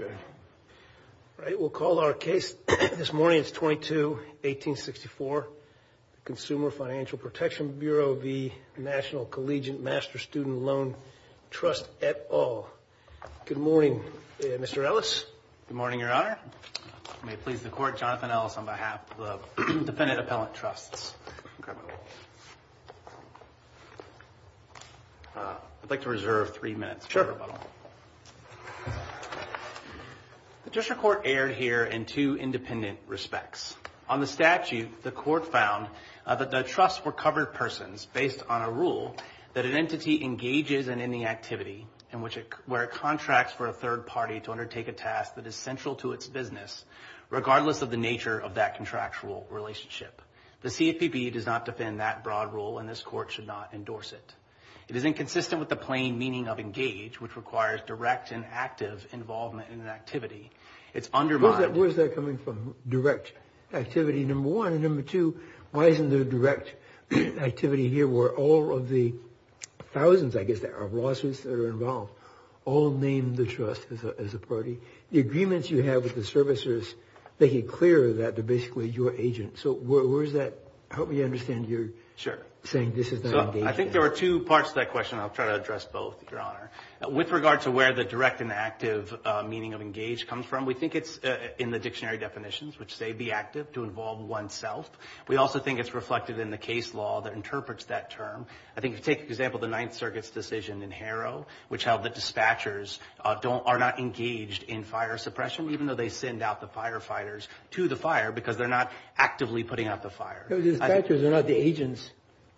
All right. We'll call our case this morning. It's 22-1864. Consumer Financial Protection Bureau v. National Collegiate Master Student Loan Trust et al. Good morning, Mr. Ellis. Good morning, Your Honor. May it please the Court, Jonathan Ellis on behalf of the Defendant Appellant Trusts. I'd like to reserve three minutes for rebuttal. Sure. The District Court erred here in two independent respects. On the statute, the Court found that the trusts were covered persons based on a rule that an entity engages in any activity where it contracts for a third party to undertake a task that is central to its business, regardless of the nature of that contractual relationship. The CFPB does not defend that broad rule, and this Court should not endorse it. It is inconsistent with the plain meaning of engage, which requires direct and active involvement in an activity. It's undermined. Where's that coming from, direct activity, number one? And number two, why isn't there direct activity here where all of the thousands, I guess, of lawsuits that are involved, all name the trust as a party? The agreements you have with the servicers make it clear that they're basically your agents. So where is that? Help me understand your saying this is not engaging. I think there are two parts to that question. I'll try to address both, Your Honor. With regard to where the direct and active meaning of engage comes from, we think it's in the dictionary definitions, which say be active, to involve oneself. We also think it's reflected in the case law that interprets that term. I think if you take, for example, the Ninth Circuit's decision in Harrow, which held that dispatchers are not engaged in fire suppression, even though they send out the firefighters to the fire because they're not actively putting out the fire. Dispatchers are not the agents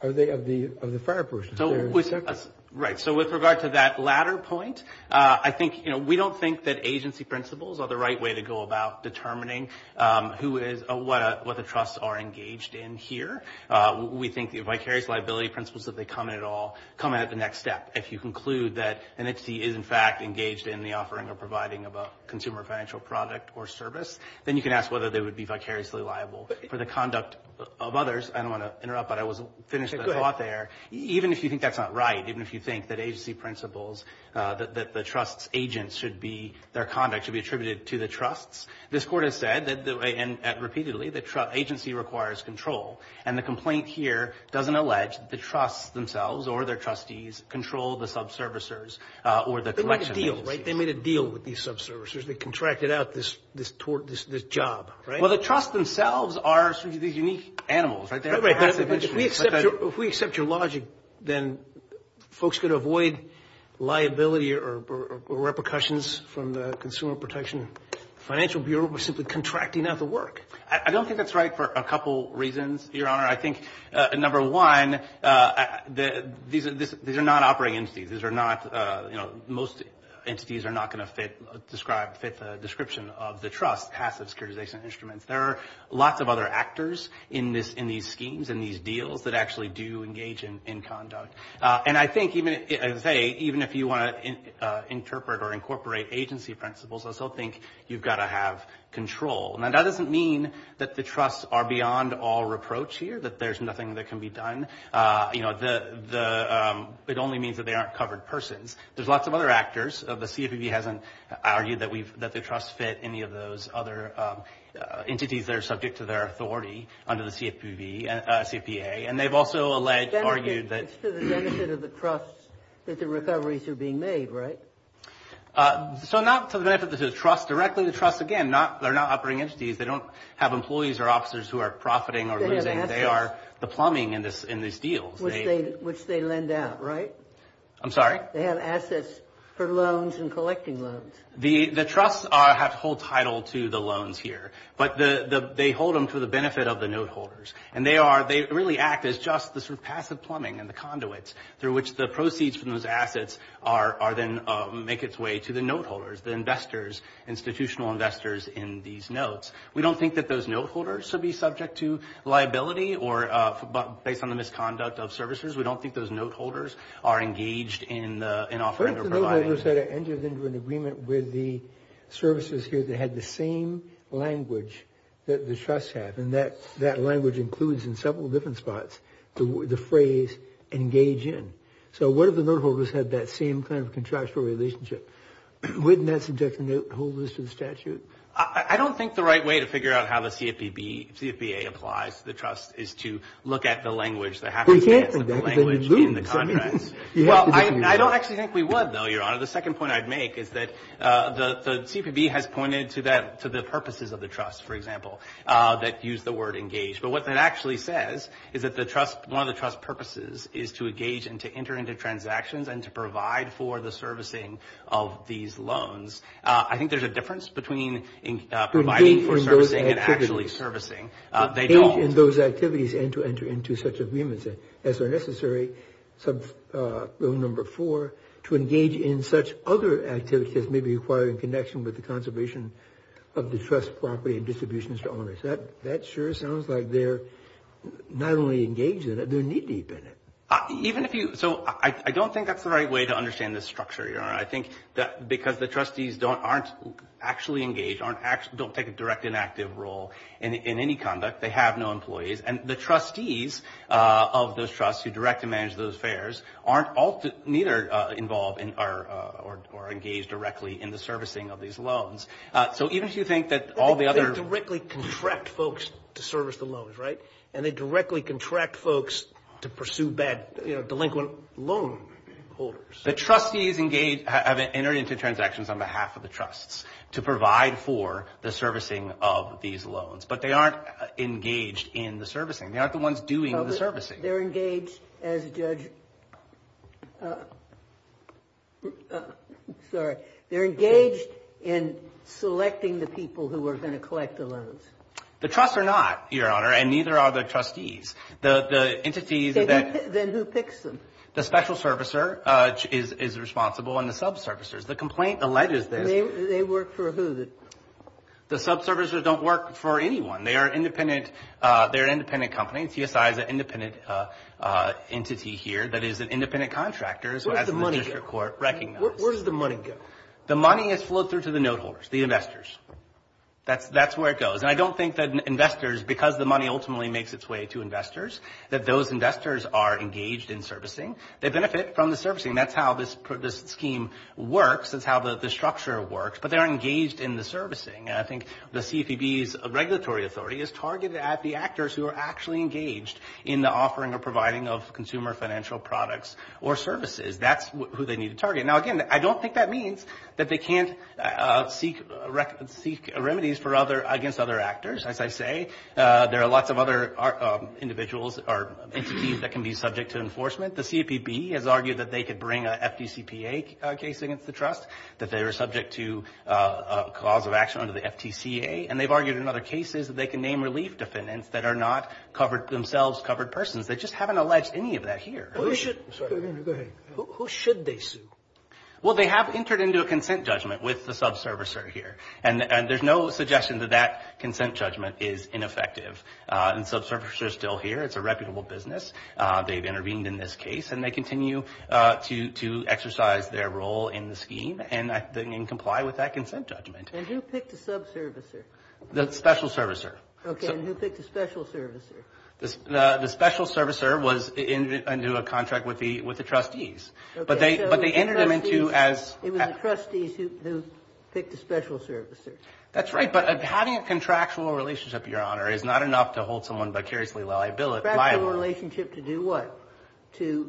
of the fire person. Right. So with regard to that latter point, I think, you know, we don't think that agency principles are the right way to go about determining who is, what the trusts are engaged in here. We think the vicarious liability principles, if they come in at all, come in at the next step. If you conclude that an entity is, in fact, engaged in the offering or providing of a consumer financial product or service, then you can ask whether they would be vicariously liable for the conduct of others. I don't want to interrupt, but I was finished with a thought there. Even if you think that's not right, even if you think that agency principles, that the trust's agents should be, their conduct should be attributed to the trusts, this Court has said repeatedly that agency requires control. And the complaint here doesn't allege that the trusts themselves or their trustees control the subservicers or the collection agencies. They made a deal, right? They made a deal with these subservicers. They contracted out this job, right? Well, the trusts themselves are these unique animals, right? If we accept your logic, then folks could avoid liability or repercussions from the Consumer Protection Financial Bureau by simply contracting out the work. I don't think that's right for a couple reasons, Your Honor. I think, number one, these are not operating entities. Most entities are not going to fit the description of the trust, passive securitization instruments. There are lots of other actors in these schemes and these deals that actually do engage in conduct. And I think, as I say, even if you want to interpret or incorporate agency principles, I still think you've got to have control. Now, that doesn't mean that the trusts are beyond all reproach here, that there's nothing that can be done. You know, it only means that they aren't covered persons. There's lots of other actors. The CFPB hasn't argued that the trusts fit any of those other entities that are subject to their authority under the CFPB, CFA. And they've also alleged, argued that- It's to the benefit of the trust that the recoveries are being made, right? So not to the benefit of the trust. Directly to the trust, again, they're not operating entities. They don't have employees or officers who are profiting or losing. They have assets. They are the plumbing in these deals. Which they lend out, right? I'm sorry? They have assets for loans and collecting loans. The trusts have to hold title to the loans here, but they hold them to the benefit of the note holders. And they really act as just the sort of passive plumbing and the conduits through which the proceeds from those assets make its way to the note holders, the investors, institutional investors in these notes. We don't think that those note holders should be subject to liability based on the misconduct of services. We don't think those note holders are engaged in offering or providing- What if the note holders had entered into an agreement with the services here that had the same language that the trusts have? And that language includes in several different spots the phrase engage in. So what if the note holders had that same kind of contractual relationship? Wouldn't that subject the note holders to the statute? I don't think the right way to figure out how the CFPB, CFBA applies to the trust is to look at the language that happens- We can't do that because then you lose. Well, I don't actually think we would, though, Your Honor. The second point I'd make is that the CFPB has pointed to the purposes of the trust, for example, that use the word engage. But what that actually says is that one of the trust purposes is to engage and to enter into transactions and to provide for the servicing of these loans. I think there's a difference between providing for servicing and actually servicing. They don't- Engage in those activities and to enter into such agreements as are necessary. Rule number four, to engage in such other activities may be required in connection with the conservation of the trust property and distributions to owners. That sure sounds like they're not only engaged in it, they're knee-deep in it. Even if you- So I don't think that's the right way to understand this structure, Your Honor. I think that because the trustees aren't actually engaged, don't take a direct and active role in any conduct, they have no employees, and the trustees of those trusts who direct and manage those affairs aren't either involved or engaged directly in the servicing of these loans. So even if you think that all the other- They directly contract folks to service the loans, right? And they directly contract folks to pursue bad delinquent loan holders. The trustees have entered into transactions on behalf of the trusts to provide for the servicing of these loans, but they aren't engaged in the servicing. They aren't the ones doing the servicing. They're engaged as judge- Sorry. They're engaged in selecting the people who are going to collect the loans. The trusts are not, Your Honor, and neither are the trustees. The entities that- Then who picks them? The special servicer is responsible and the subservicers. The complaint alleges that- They work for who? The subservicers don't work for anyone. They are an independent company. CSI is an independent entity here that is an independent contractor, as the district court recognizes. Where does the money go? The money is flowed through to the note holders, the investors. That's where it goes. And I don't think that investors, because the money ultimately makes its way to investors, that those investors are engaged in servicing. They benefit from the servicing. That's how this scheme works. That's how the structure works. But they aren't engaged in the servicing. I think the CFPB's regulatory authority is targeted at the actors who are actually engaged in the offering or providing of consumer financial products or services. That's who they need to target. Now, again, I don't think that means that they can't seek remedies against other actors. As I say, there are lots of other individuals or entities that can be subject to enforcement. The CFPB has argued that they could bring an FDCPA case against the trust, that they were subject to a cause of action under the FTCA. And they've argued in other cases that they can name relief defendants that are not themselves covered persons. They just haven't alleged any of that here. Who should they sue? Well, they have entered into a consent judgment with the subservicer here. And there's no suggestion that that consent judgment is ineffective. And the subservicer is still here. It's a reputable business. They've intervened in this case. And they continue to exercise their role in the scheme and comply with that consent judgment. And who picked the subservicer? The special servicer. Okay. And who picked the special servicer? The special servicer was into a contract with the trustees. Okay. So it was the trustees who picked the special servicer. That's right. But having a contractual relationship, Your Honor, is not enough to hold someone vicariously liable. Contractual relationship to do what? The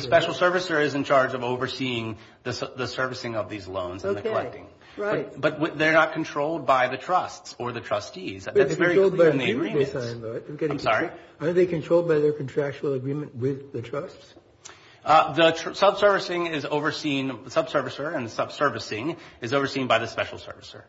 special servicer is in charge of overseeing the servicing of these loans and the collecting. Okay. Right. But they're not controlled by the trusts or the trustees. That's very clear in the agreements. I'm sorry? Are they controlled by their contractual agreement with the trusts? The subservicing is overseen by the subservicer, and the subservicing is overseen by the special servicer.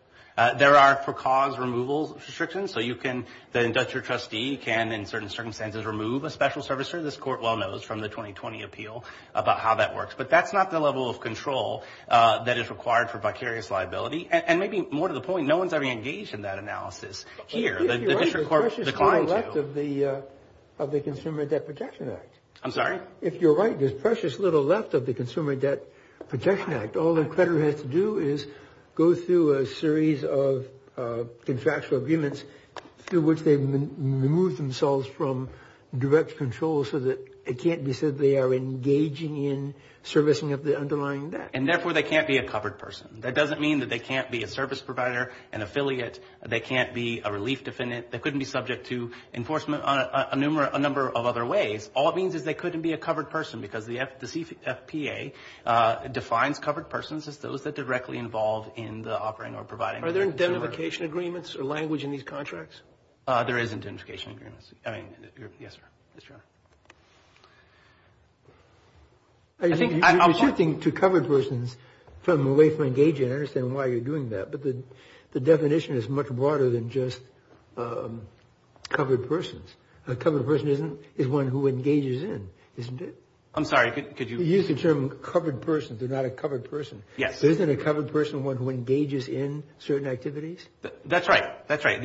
There are for-cause removal restrictions. So you can – the industrial trustee can, in certain circumstances, remove a special servicer. This Court well knows from the 2020 appeal about how that works. But that's not the level of control that is required for vicarious liability. And maybe more to the point, no one's ever engaged in that analysis here. If you're right, there's precious little left of the Consumer Debt Protection Act. I'm sorry? If you're right, there's precious little left of the Consumer Debt Protection Act. All the creditor has to do is go through a series of contractual agreements through which they've removed themselves from direct control so that it can't be said they are engaging in servicing of the underlying debt. And therefore, they can't be a covered person. That doesn't mean that they can't be a service provider, an affiliate. They can't be a relief defendant. They couldn't be subject to enforcement on a number of other ways. All it means is they couldn't be a covered person, because the CFPA defines covered persons as those that directly involve in the offering or providing. Are there identification agreements or language in these contracts? There is identification agreements. I mean, yes, sir. Yes, Your Honor. I think you should think to covered persons from away from engaging, I understand why you're doing that. But the definition is much broader than just covered persons. A covered person is one who engages in, isn't it? I'm sorry, could you? You used the term covered persons. They're not a covered person. Yes. Isn't a covered person one who engages in certain activities? That's right. That's right.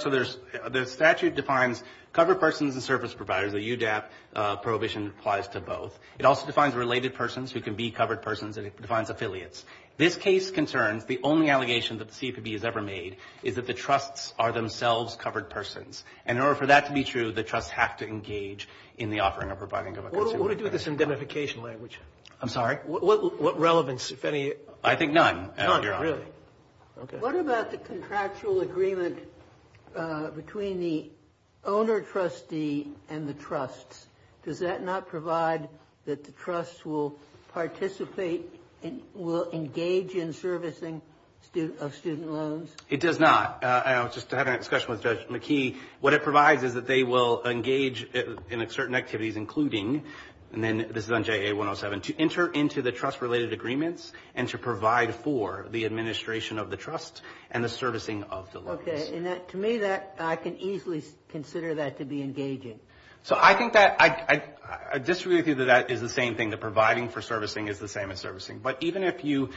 So the statute defines covered persons as service providers. The UDAP prohibition applies to both. It also defines related persons who can be covered persons, and it defines affiliates. This case concerns the only allegation that the CFPB has ever made is that the trusts are themselves covered persons. And in order for that to be true, the trusts have to engage in the offering or providing of a consumer benefit. What do we do with this identification language? I'm sorry? What relevance, if any? I think none, Your Honor. None, really? Okay. What about the contractual agreement between the owner trustee and the trusts? Does that not provide that the trusts will participate and will engage in servicing of student loans? It does not. I was just having a discussion with Judge McKee. What it provides is that they will engage in certain activities, including, and then this is on JA107, to enter into the trust-related agreements and to provide for the administration of the trust and the servicing of the loans. Okay. To me, I can easily consider that to be engaging. So I think that I disagree with you that that is the same thing, that providing for servicing is the same as servicing. But even if you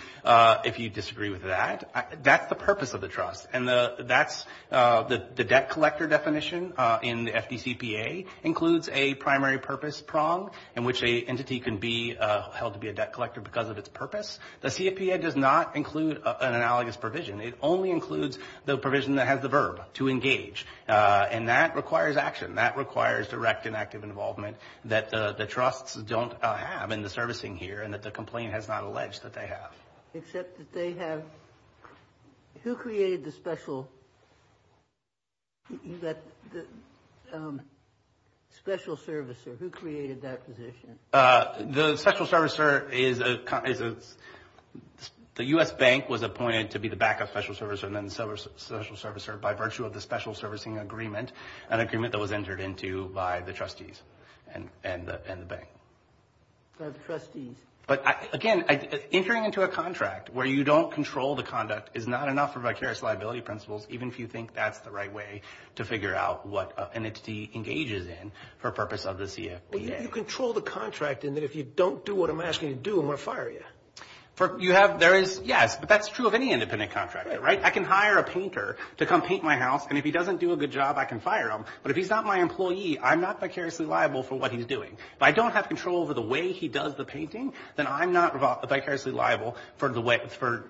disagree with that, that's the purpose of the trust. And that's the debt collector definition in the FDCPA includes a primary purpose prong in which an entity can be held to be a debt collector because of its purpose. The CFPA does not include an analogous provision. It only includes the provision that has the verb, to engage. And that requires action. That requires direct and active involvement that the trusts don't have in the servicing here and that the complaint has not alleged that they have. Except that they have, who created the special, special servicer? Who created that position? The special servicer is, the U.S. Bank was appointed to be the backup special servicer and then the special servicer by virtue of the special servicing agreement, an agreement that was entered into by the trustees and the bank. By the trustees. But, again, entering into a contract where you don't control the conduct is not enough for vicarious liability principles, even if you think that's the right way to figure out what an entity engages in for purpose of the CFPA. You control the contract in that if you don't do what I'm asking you to do, I'm going to fire you. You have, there is, yes. But that's true of any independent contractor, right? I can hire a painter to come paint my house, and if he doesn't do a good job, I can fire him. But if he's not my employee, I'm not vicariously liable for what he's doing. If I don't have control over the way he does the painting, then I'm not vicariously liable for the way, for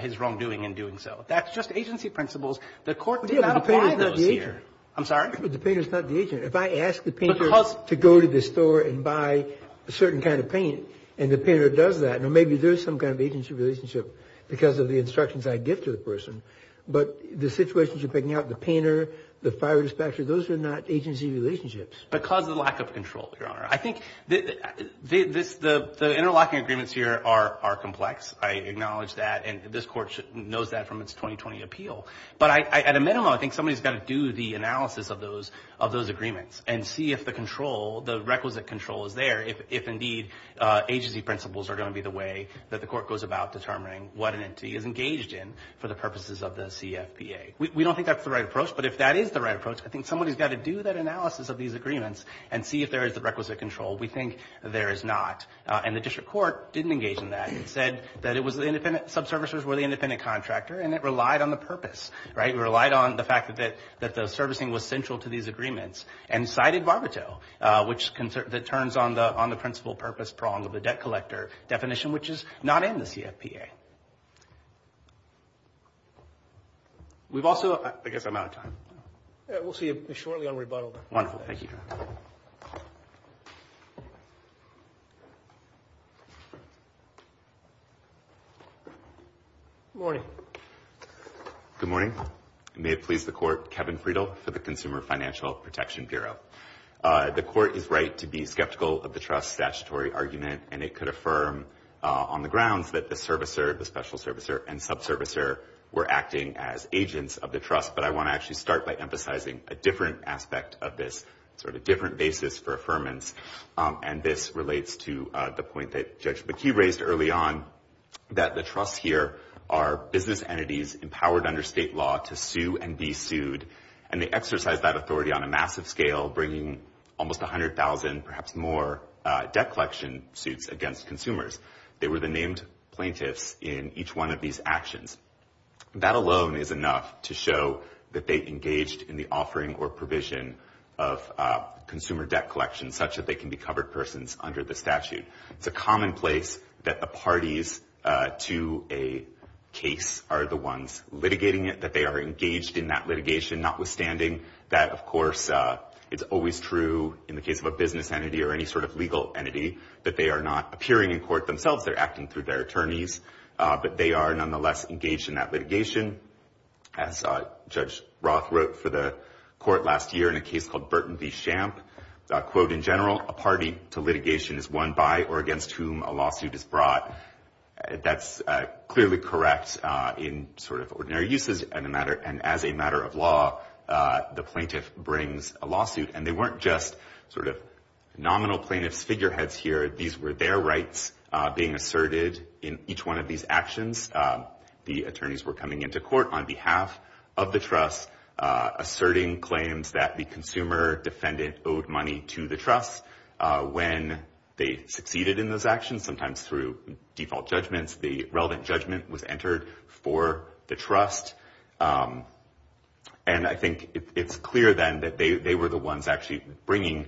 his wrongdoing in doing so. That's just agency principles. The court did not apply those here. I'm sorry? But the painter's not the agent. If I ask the painter to go to the store and buy a certain kind of paint and the painter does that, now maybe there's some kind of agency relationship because of the instructions I give to the person. But the situations you're picking out, the painter, the fire dispatcher, those are not agency relationships. Because of the lack of control, Your Honor. I think the interlocking agreements here are complex. I acknowledge that, and this court knows that from its 2020 appeal. But at a minimum, I think somebody's got to do the analysis of those agreements and see if the control, the requisite control is there, if indeed agency principles are going to be the way that the court goes about determining what an entity is engaged in for the purposes of the CFPA. We don't think that's the right approach, but if that is the right approach, I think somebody's got to do that analysis of these agreements and see if there is the requisite control. We think there is not. And the district court didn't engage in that. It said that it was the independent subservicers were the independent contractor, and it relied on the purpose, right? It relied on the fact that the servicing was central to these agreements and cited Barbato, which turns on the principle purpose prong of the debt collector definition, which is not in the CFPA. Okay. We've also – I guess I'm out of time. We'll see you shortly on rebuttal. Wonderful. Thank you. Good morning. Good morning. May it please the court, Kevin Friedel for the Consumer Financial Protection Bureau. The court is right to be skeptical of the trust statutory argument, and it could affirm on the grounds that the servicer, the special servicer, and subservicer were acting as agents of the trust, but I want to actually start by emphasizing a different aspect of this, sort of a different basis for affirmance, and this relates to the point that Judge McKee raised early on, that the trusts here are business entities empowered under state law to sue and be sued, and they exercise that authority on a massive scale, bringing almost 100,000, perhaps more, debt collection suits against consumers. They were the named plaintiffs in each one of these actions. That alone is enough to show that they engaged in the offering or provision of consumer debt collection such that they can be covered persons under the statute. It's a commonplace that the parties to a case are the ones litigating it, that they are engaged in that litigation, notwithstanding that, of course, it's always true in the case of a business entity or any sort of legal entity that they are not appearing in court themselves, they're acting through their attorneys, but they are nonetheless engaged in that litigation. As Judge Roth wrote for the court last year in a case called Burton v. Shamp, quote, in general, a party to litigation is one by or against whom a lawsuit is brought. That's clearly correct in sort of ordinary uses, and as a matter of law, the plaintiff brings a lawsuit, and they weren't just sort of nominal plaintiff's figureheads here. These were their rights being asserted in each one of these actions. The attorneys were coming into court on behalf of the trust, asserting claims that the consumer defendant owed money to the trust. When they succeeded in those actions, sometimes through default judgments, the relevant judgment was entered for the trust, and I think it's clear then that they were the ones actually bringing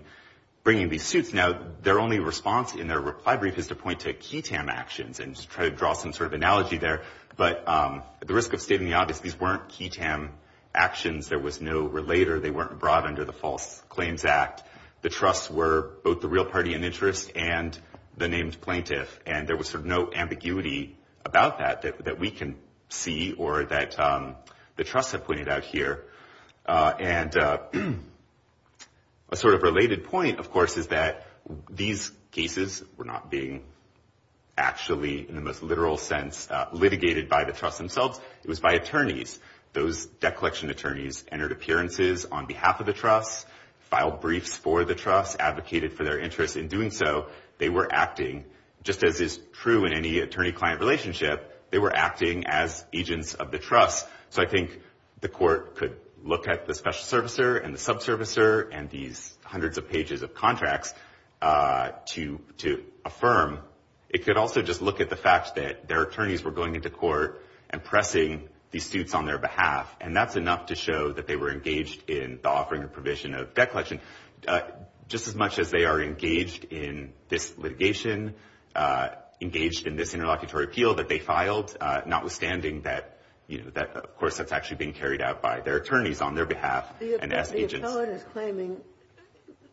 these suits. Now, their only response in their reply brief is to point to key TAM actions and try to draw some sort of analogy there, but at the risk of stating the obvious, these weren't key TAM actions. There was no relator. They weren't brought under the False Claims Act. The trusts were both the real party in interest and the named plaintiff, and there was sort of no ambiguity about that that we can see or that the trusts have pointed out here. And a sort of related point, of course, is that these cases were not being actually, in the most literal sense, litigated by the trusts themselves. It was by attorneys. Those debt collection attorneys entered appearances on behalf of the trust, filed briefs for the trust, advocated for their interest in doing so. They were acting, just as is true in any attorney-client relationship, they were acting as agents of the trust. So I think the court could look at the special servicer and the subservicer and these hundreds of pages of contracts to affirm. It could also just look at the fact that their attorneys were going into court and pressing these suits on their behalf, debt collection, just as much as they are engaged in this litigation, engaged in this interlocutory appeal that they filed, notwithstanding that, of course, that's actually being carried out by their attorneys on their behalf and as agents. The appellant is claiming,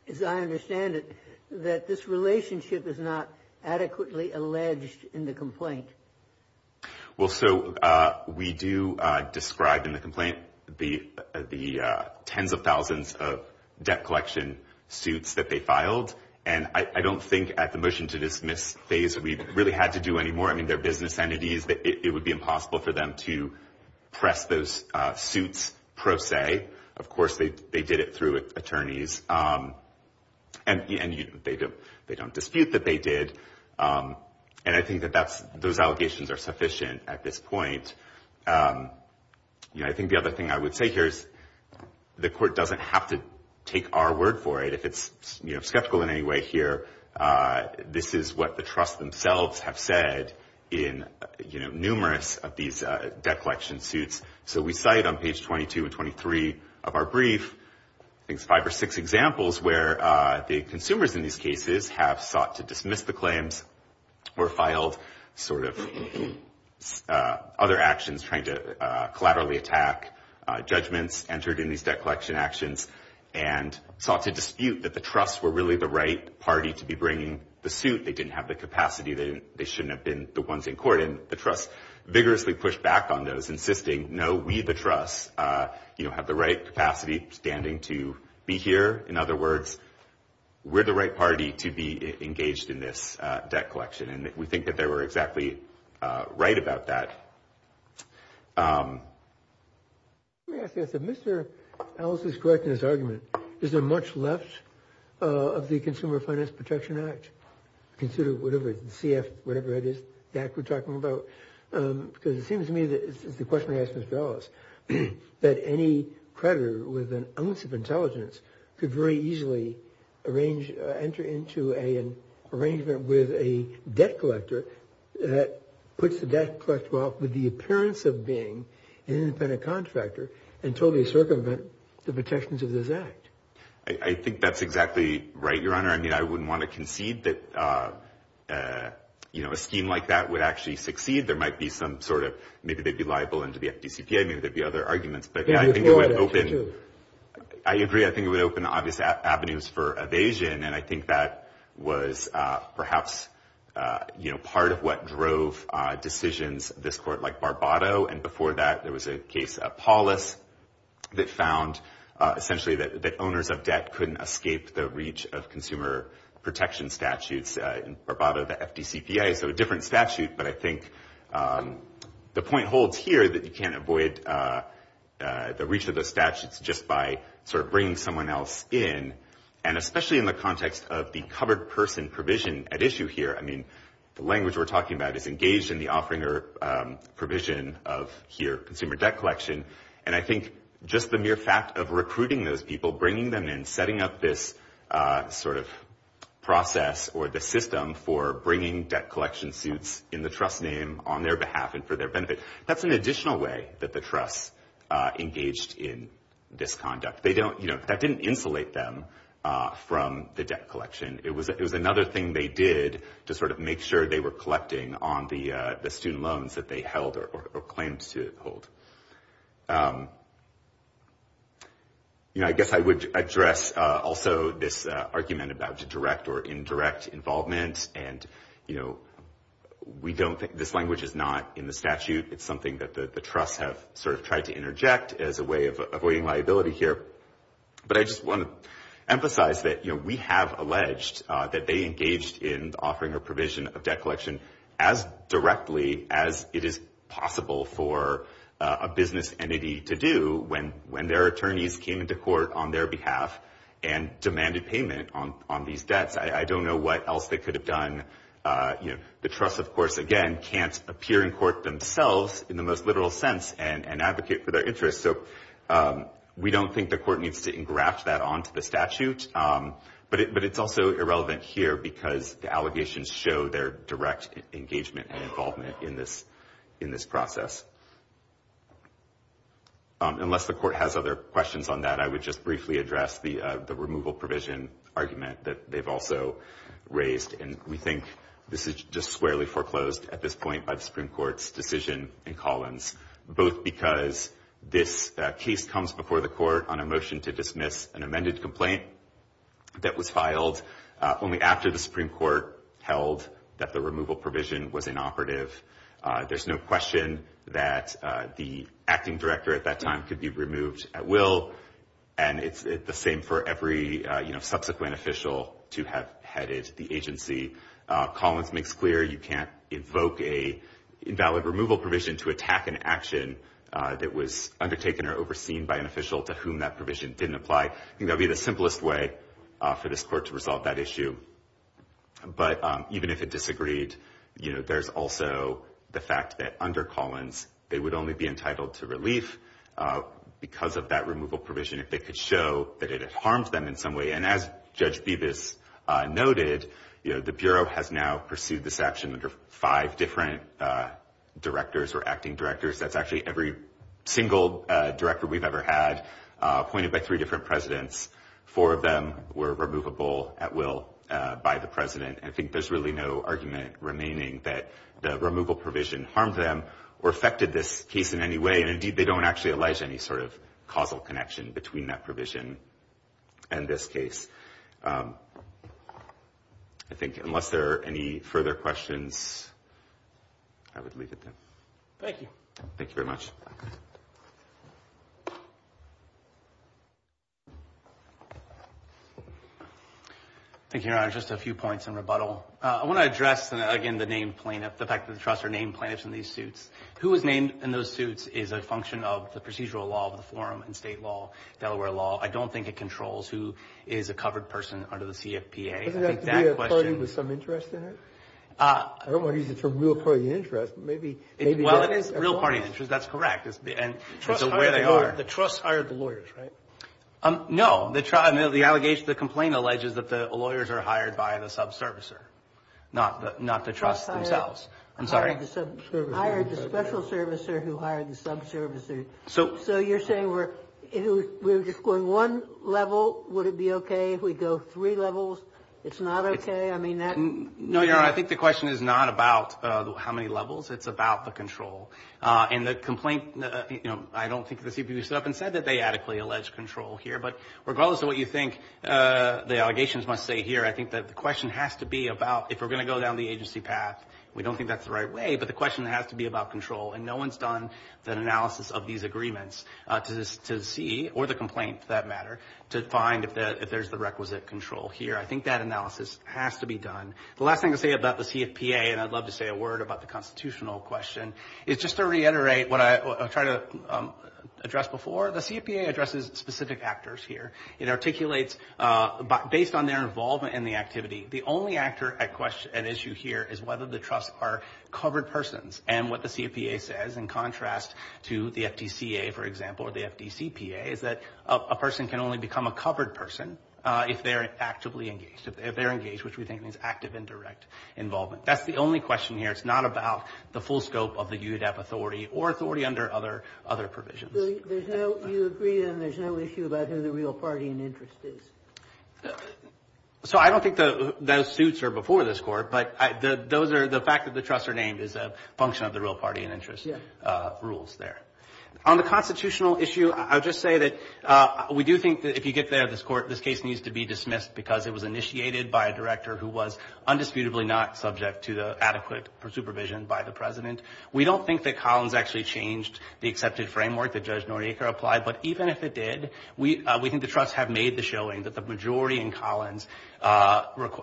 as I understand it, that this relationship is not adequately alleged in the complaint. Well, so we do describe in the complaint the tens of thousands of debt collection suits that they filed, and I don't think at the motion to dismiss phase we really had to do any more. I mean, they're business entities. It would be impossible for them to press those suits pro se. Of course, they did it through attorneys, and they don't dispute that they did. And I think that those allegations are sufficient at this point. I think the other thing I would say here is the court doesn't have to take our word for it. If it's skeptical in any way here, this is what the trusts themselves have said in numerous of these debt collection suits. So we cite on page 22 and 23 of our brief, I think it's five or six examples, where the consumers in these cases have sought to dismiss the claims, or filed sort of other actions trying to collaterally attack judgments entered in these debt collection actions, and sought to dispute that the trusts were really the right party to be bringing the suit. They didn't have the capacity. They shouldn't have been the ones in court, and the trusts vigorously pushed back on those, insisting, no, we, the trusts, have the right capacity standing to be here. In other words, we're the right party to be engaged in this debt collection, and we think that they were exactly right about that. Let me ask this. If Mr. Ellis is correct in his argument, is there much left of the Consumer Finance Protection Act? Consider whatever it is, the CF, whatever it is, the act we're talking about. Because it seems to me that, as the questioner asked Mr. Ellis, that any creditor with an ounce of intelligence could very easily arrange, enter into an arrangement with a debt collector that puts the debt collector off with the appearance of being an independent contractor until they circumvent the protections of this act. I think that's exactly right, Your Honor. I mean, I wouldn't want to concede that, you know, a scheme like that would actually succeed. There might be some sort of, maybe they'd be liable under the FDCPA, maybe there'd be other arguments. I agree, I think it would open obvious avenues for evasion, and I think that was perhaps, you know, part of what drove decisions this court, like Barbado. And before that, there was a case, Paulus, that found essentially that owners of debt couldn't escape the reach of consumer protection statutes. In Barbado, the FDCPA, so a different statute, but I think the point holds here that you can't avoid the reach of the statutes just by sort of bringing someone else in, and especially in the context of the covered person provision at issue here. I mean, the language we're talking about is engaged in the offering or provision of, here, consumer debt collection, and I think just the mere fact of recruiting those people, bringing them in, setting up this sort of process or the system for bringing debt collection suits in the trust name on their behalf and for their benefit, that's an additional way that the trusts engaged in this conduct. They don't, you know, that didn't insulate them from the debt collection. It was another thing they did to sort of make sure they were collecting on the student loans that they held or claimed to hold. You know, I guess I would address also this argument about direct or indirect involvement, and, you know, we don't think this language is not in the statute. It's something that the trusts have sort of tried to interject as a way of avoiding liability here, but I just want to emphasize that, you know, we have alleged that they engaged in offering or provision of debt collection as directly as it is possible for a business entity to do when their attorneys came into court on their behalf and demanded payment on these debts. I don't know what else they could have done. You know, the trusts, of course, again, can't appear in court themselves in the most literal sense and advocate for their interests, so we don't think the court needs to engraft that onto the statute, but it's also irrelevant here because the allegations show their direct engagement and involvement in this process. Unless the court has other questions on that, I would just briefly address the removal provision argument that they've also raised, and we think this is just squarely foreclosed at this point by the Supreme Court's decision in Collins, both because this case comes before the court on a motion to dismiss an amended complaint that was filed only after the Supreme Court held that the removal provision was inoperative. There's no question that the acting director at that time could be removed at will, and it's the same for every, you know, subsequent official to have headed the agency. Collins makes clear you can't evoke an invalid removal provision to attack an action that was undertaken or overseen by an official to whom that provision didn't apply. I think that would be the simplest way for this court to resolve that issue. But even if it disagreed, you know, there's also the fact that under Collins, they would only be entitled to relief because of that removal provision if they could show that it had harmed them in some way. And as Judge Bibas noted, you know, the Bureau has now pursued this action under five different directors or acting directors. That's actually every single director we've ever had appointed by three different presidents. Four of them were removable at will by the president, and I think there's really no argument remaining that the removal provision harmed them or affected this case in any way. And, indeed, they don't actually allege any sort of causal connection between that provision and this case. I think unless there are any further questions, I would leave it there. Thank you. Thank you very much. Thank you, Your Honor. Just a few points in rebuttal. I want to address, again, the name plaintiff, the fact that the trust are named plaintiffs in these suits. Who is named in those suits is a function of the procedural law of the forum and state law, Delaware law. I don't think it controls who is a covered person under the CFPA. Doesn't that have to be a party with some interest in it? I don't want to use the term real party interest, but maybe that is. Well, it is real party interest. That's correct. And so where they are. The trust hired the lawyers, right? No. The allegation, the complaint alleges that the lawyers are hired by the subservicer, not the trust themselves. I'm sorry. Hired the special servicer who hired the subservicer. So you're saying we're just going one level. Would it be okay if we go three levels? It's not okay? I mean that. No, Your Honor. I think the question is not about how many levels. It's about the control. And the complaint, you know, I don't think the CFPB stood up and said that they adequately allege control here. But regardless of what you think the allegations must say here, I think that the question has to be about if we're going to go down the agency path. We don't think that's the right way, but the question has to be about control. And no one's done an analysis of these agreements to see, or the complaint for that matter, to find if there's the requisite control here. I think that analysis has to be done. The last thing to say about the CFPA, and I'd love to say a word about the constitutional question, is just to reiterate what I tried to address before. The CFPA addresses specific actors here. It articulates based on their involvement in the activity. The only actor at issue here is whether the trusts are covered persons. And what the CFPA says, in contrast to the FDCA, for example, or the FDCPA, is that a person can only become a covered person if they're actively engaged, if they're engaged, which we think means active and direct involvement. That's the only question here. It's not about the full scope of the UDAP authority or authority under other provisions. You agree then there's no issue about who the real party in interest is? So I don't think those suits are before this Court, but the fact that the trusts are named is a function of the real party in interest rules there. On the constitutional issue, I would just say that we do think that if you get there, this case needs to be dismissed because it was initiated by a director who was undisputedly not subject to the adequate supervision by the President. We don't think that Collins actually changed the accepted framework that Judge Noriega applied, but even if it did, we think the trusts have made the showing that the majority in Collins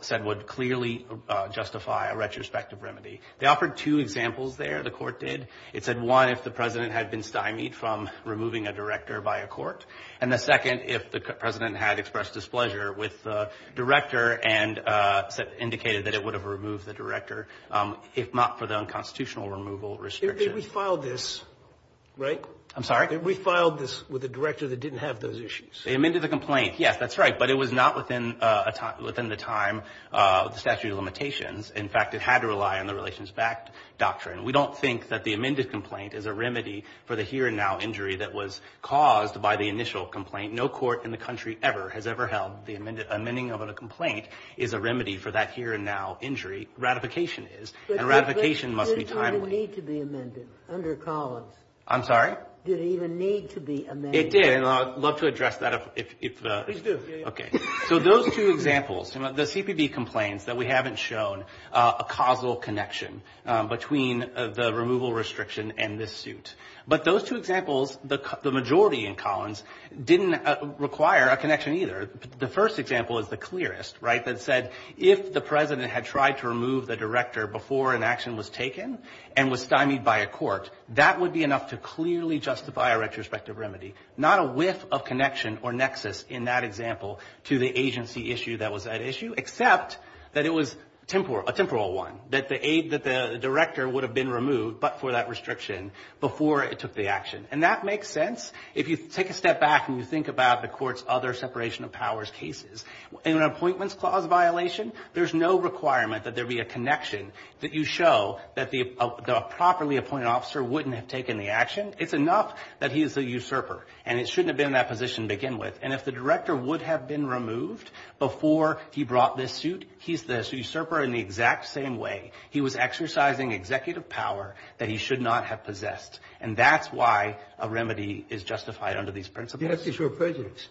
said would clearly justify a retrospective remedy. They offered two examples there. The Court did. It said, one, if the President had been stymied from removing a director by a court, and the second, if the President had expressed displeasure with the director and indicated that it would have removed the director, if not for the unconstitutional removal restriction. We filed this, right? I'm sorry? We filed this with a director that didn't have those issues. They amended the complaint. Yes, that's right. But it was not within the time of the statute of limitations. In fact, it had to rely on the relations-backed doctrine. We don't think that the amended complaint is a remedy for the here-and-now injury that was caused by the initial complaint. No court in the country ever has ever held the amending of a complaint is a remedy for that here-and-now injury. Ratification is. And ratification must be timely. But it didn't need to be amended under Collins. I'm sorry? It didn't even need to be amended. It did. And I'd love to address that if the ---- Please do. Okay. So those two examples, the CPB complains that we haven't shown a causal connection between the removal restriction and this suit. But those two examples, the majority in Collins, didn't require a connection either. The first example is the clearest, right, that said if the President had tried to remove the director before an action was taken and was stymied by a court, that would be enough to clearly justify a retrospective remedy. Not a whiff of connection or nexus in that example to the agency issue that was that issue, except that it was a temporal one. That the aid that the director would have been removed but for that restriction before it took the action. And that makes sense if you take a step back and you think about the court's other separation of powers cases. In an appointments clause violation, there's no requirement that there be a connection that you show that the properly appointed officer wouldn't have taken the action. It's enough that he is a usurper. And it shouldn't have been in that position to begin with. And if the director would have been removed before he brought this suit, he's the usurper in the exact same way. He was exercising executive power that he should not have possessed. And that's why a remedy is justified under these principles. That's the short prejudice.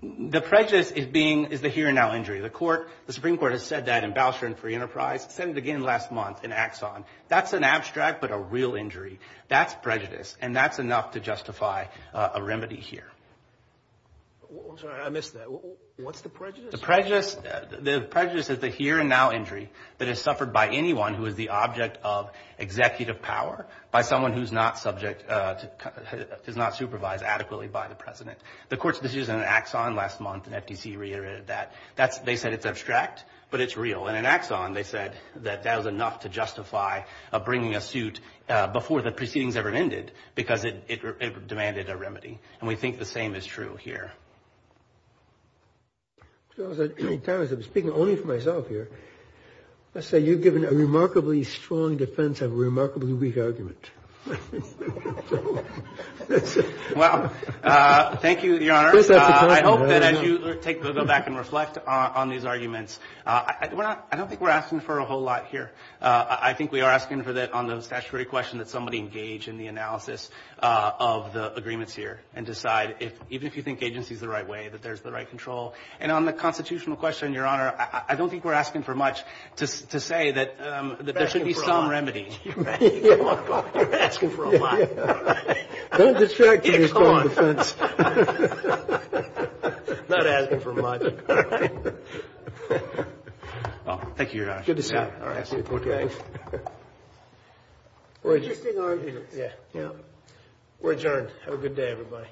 The prejudice is being, is the here and now injury. The court, the Supreme Court has said that in Bousher and Free Enterprise. Said it again last month in Axon. That's an abstract but a real injury. That's prejudice. And that's enough to justify a remedy here. I'm sorry, I missed that. What's the prejudice? The prejudice is the here and now injury that is suffered by anyone who is the object of executive power by someone who's not subject, does not supervise adequately by the president. The court's decision in Axon last month and FTC reiterated that. They said it's abstract, but it's real. And in Axon they said that that was enough to justify bringing a suit before the proceedings ever ended because it demanded a remedy. And we think the same is true here. I was speaking only for myself here. Let's say you've given a remarkably strong defense of a remarkably weak argument. Well, thank you, Your Honor. I hope that as you go back and reflect on these arguments, I don't think we're asking for a whole lot here. I think we are asking for that on the statutory question that somebody engage in the analysis of the agreements here and decide, even if you think agency is the right way, that there's the right control. And on the constitutional question, Your Honor, I don't think we're asking for much to say that there should be some remedy. You're asking for a lot. Don't distract me with your strong defense. I'm not asking for much. Thank you, Your Honor. Good to see you. We're adjourned. Have a good day, everybody.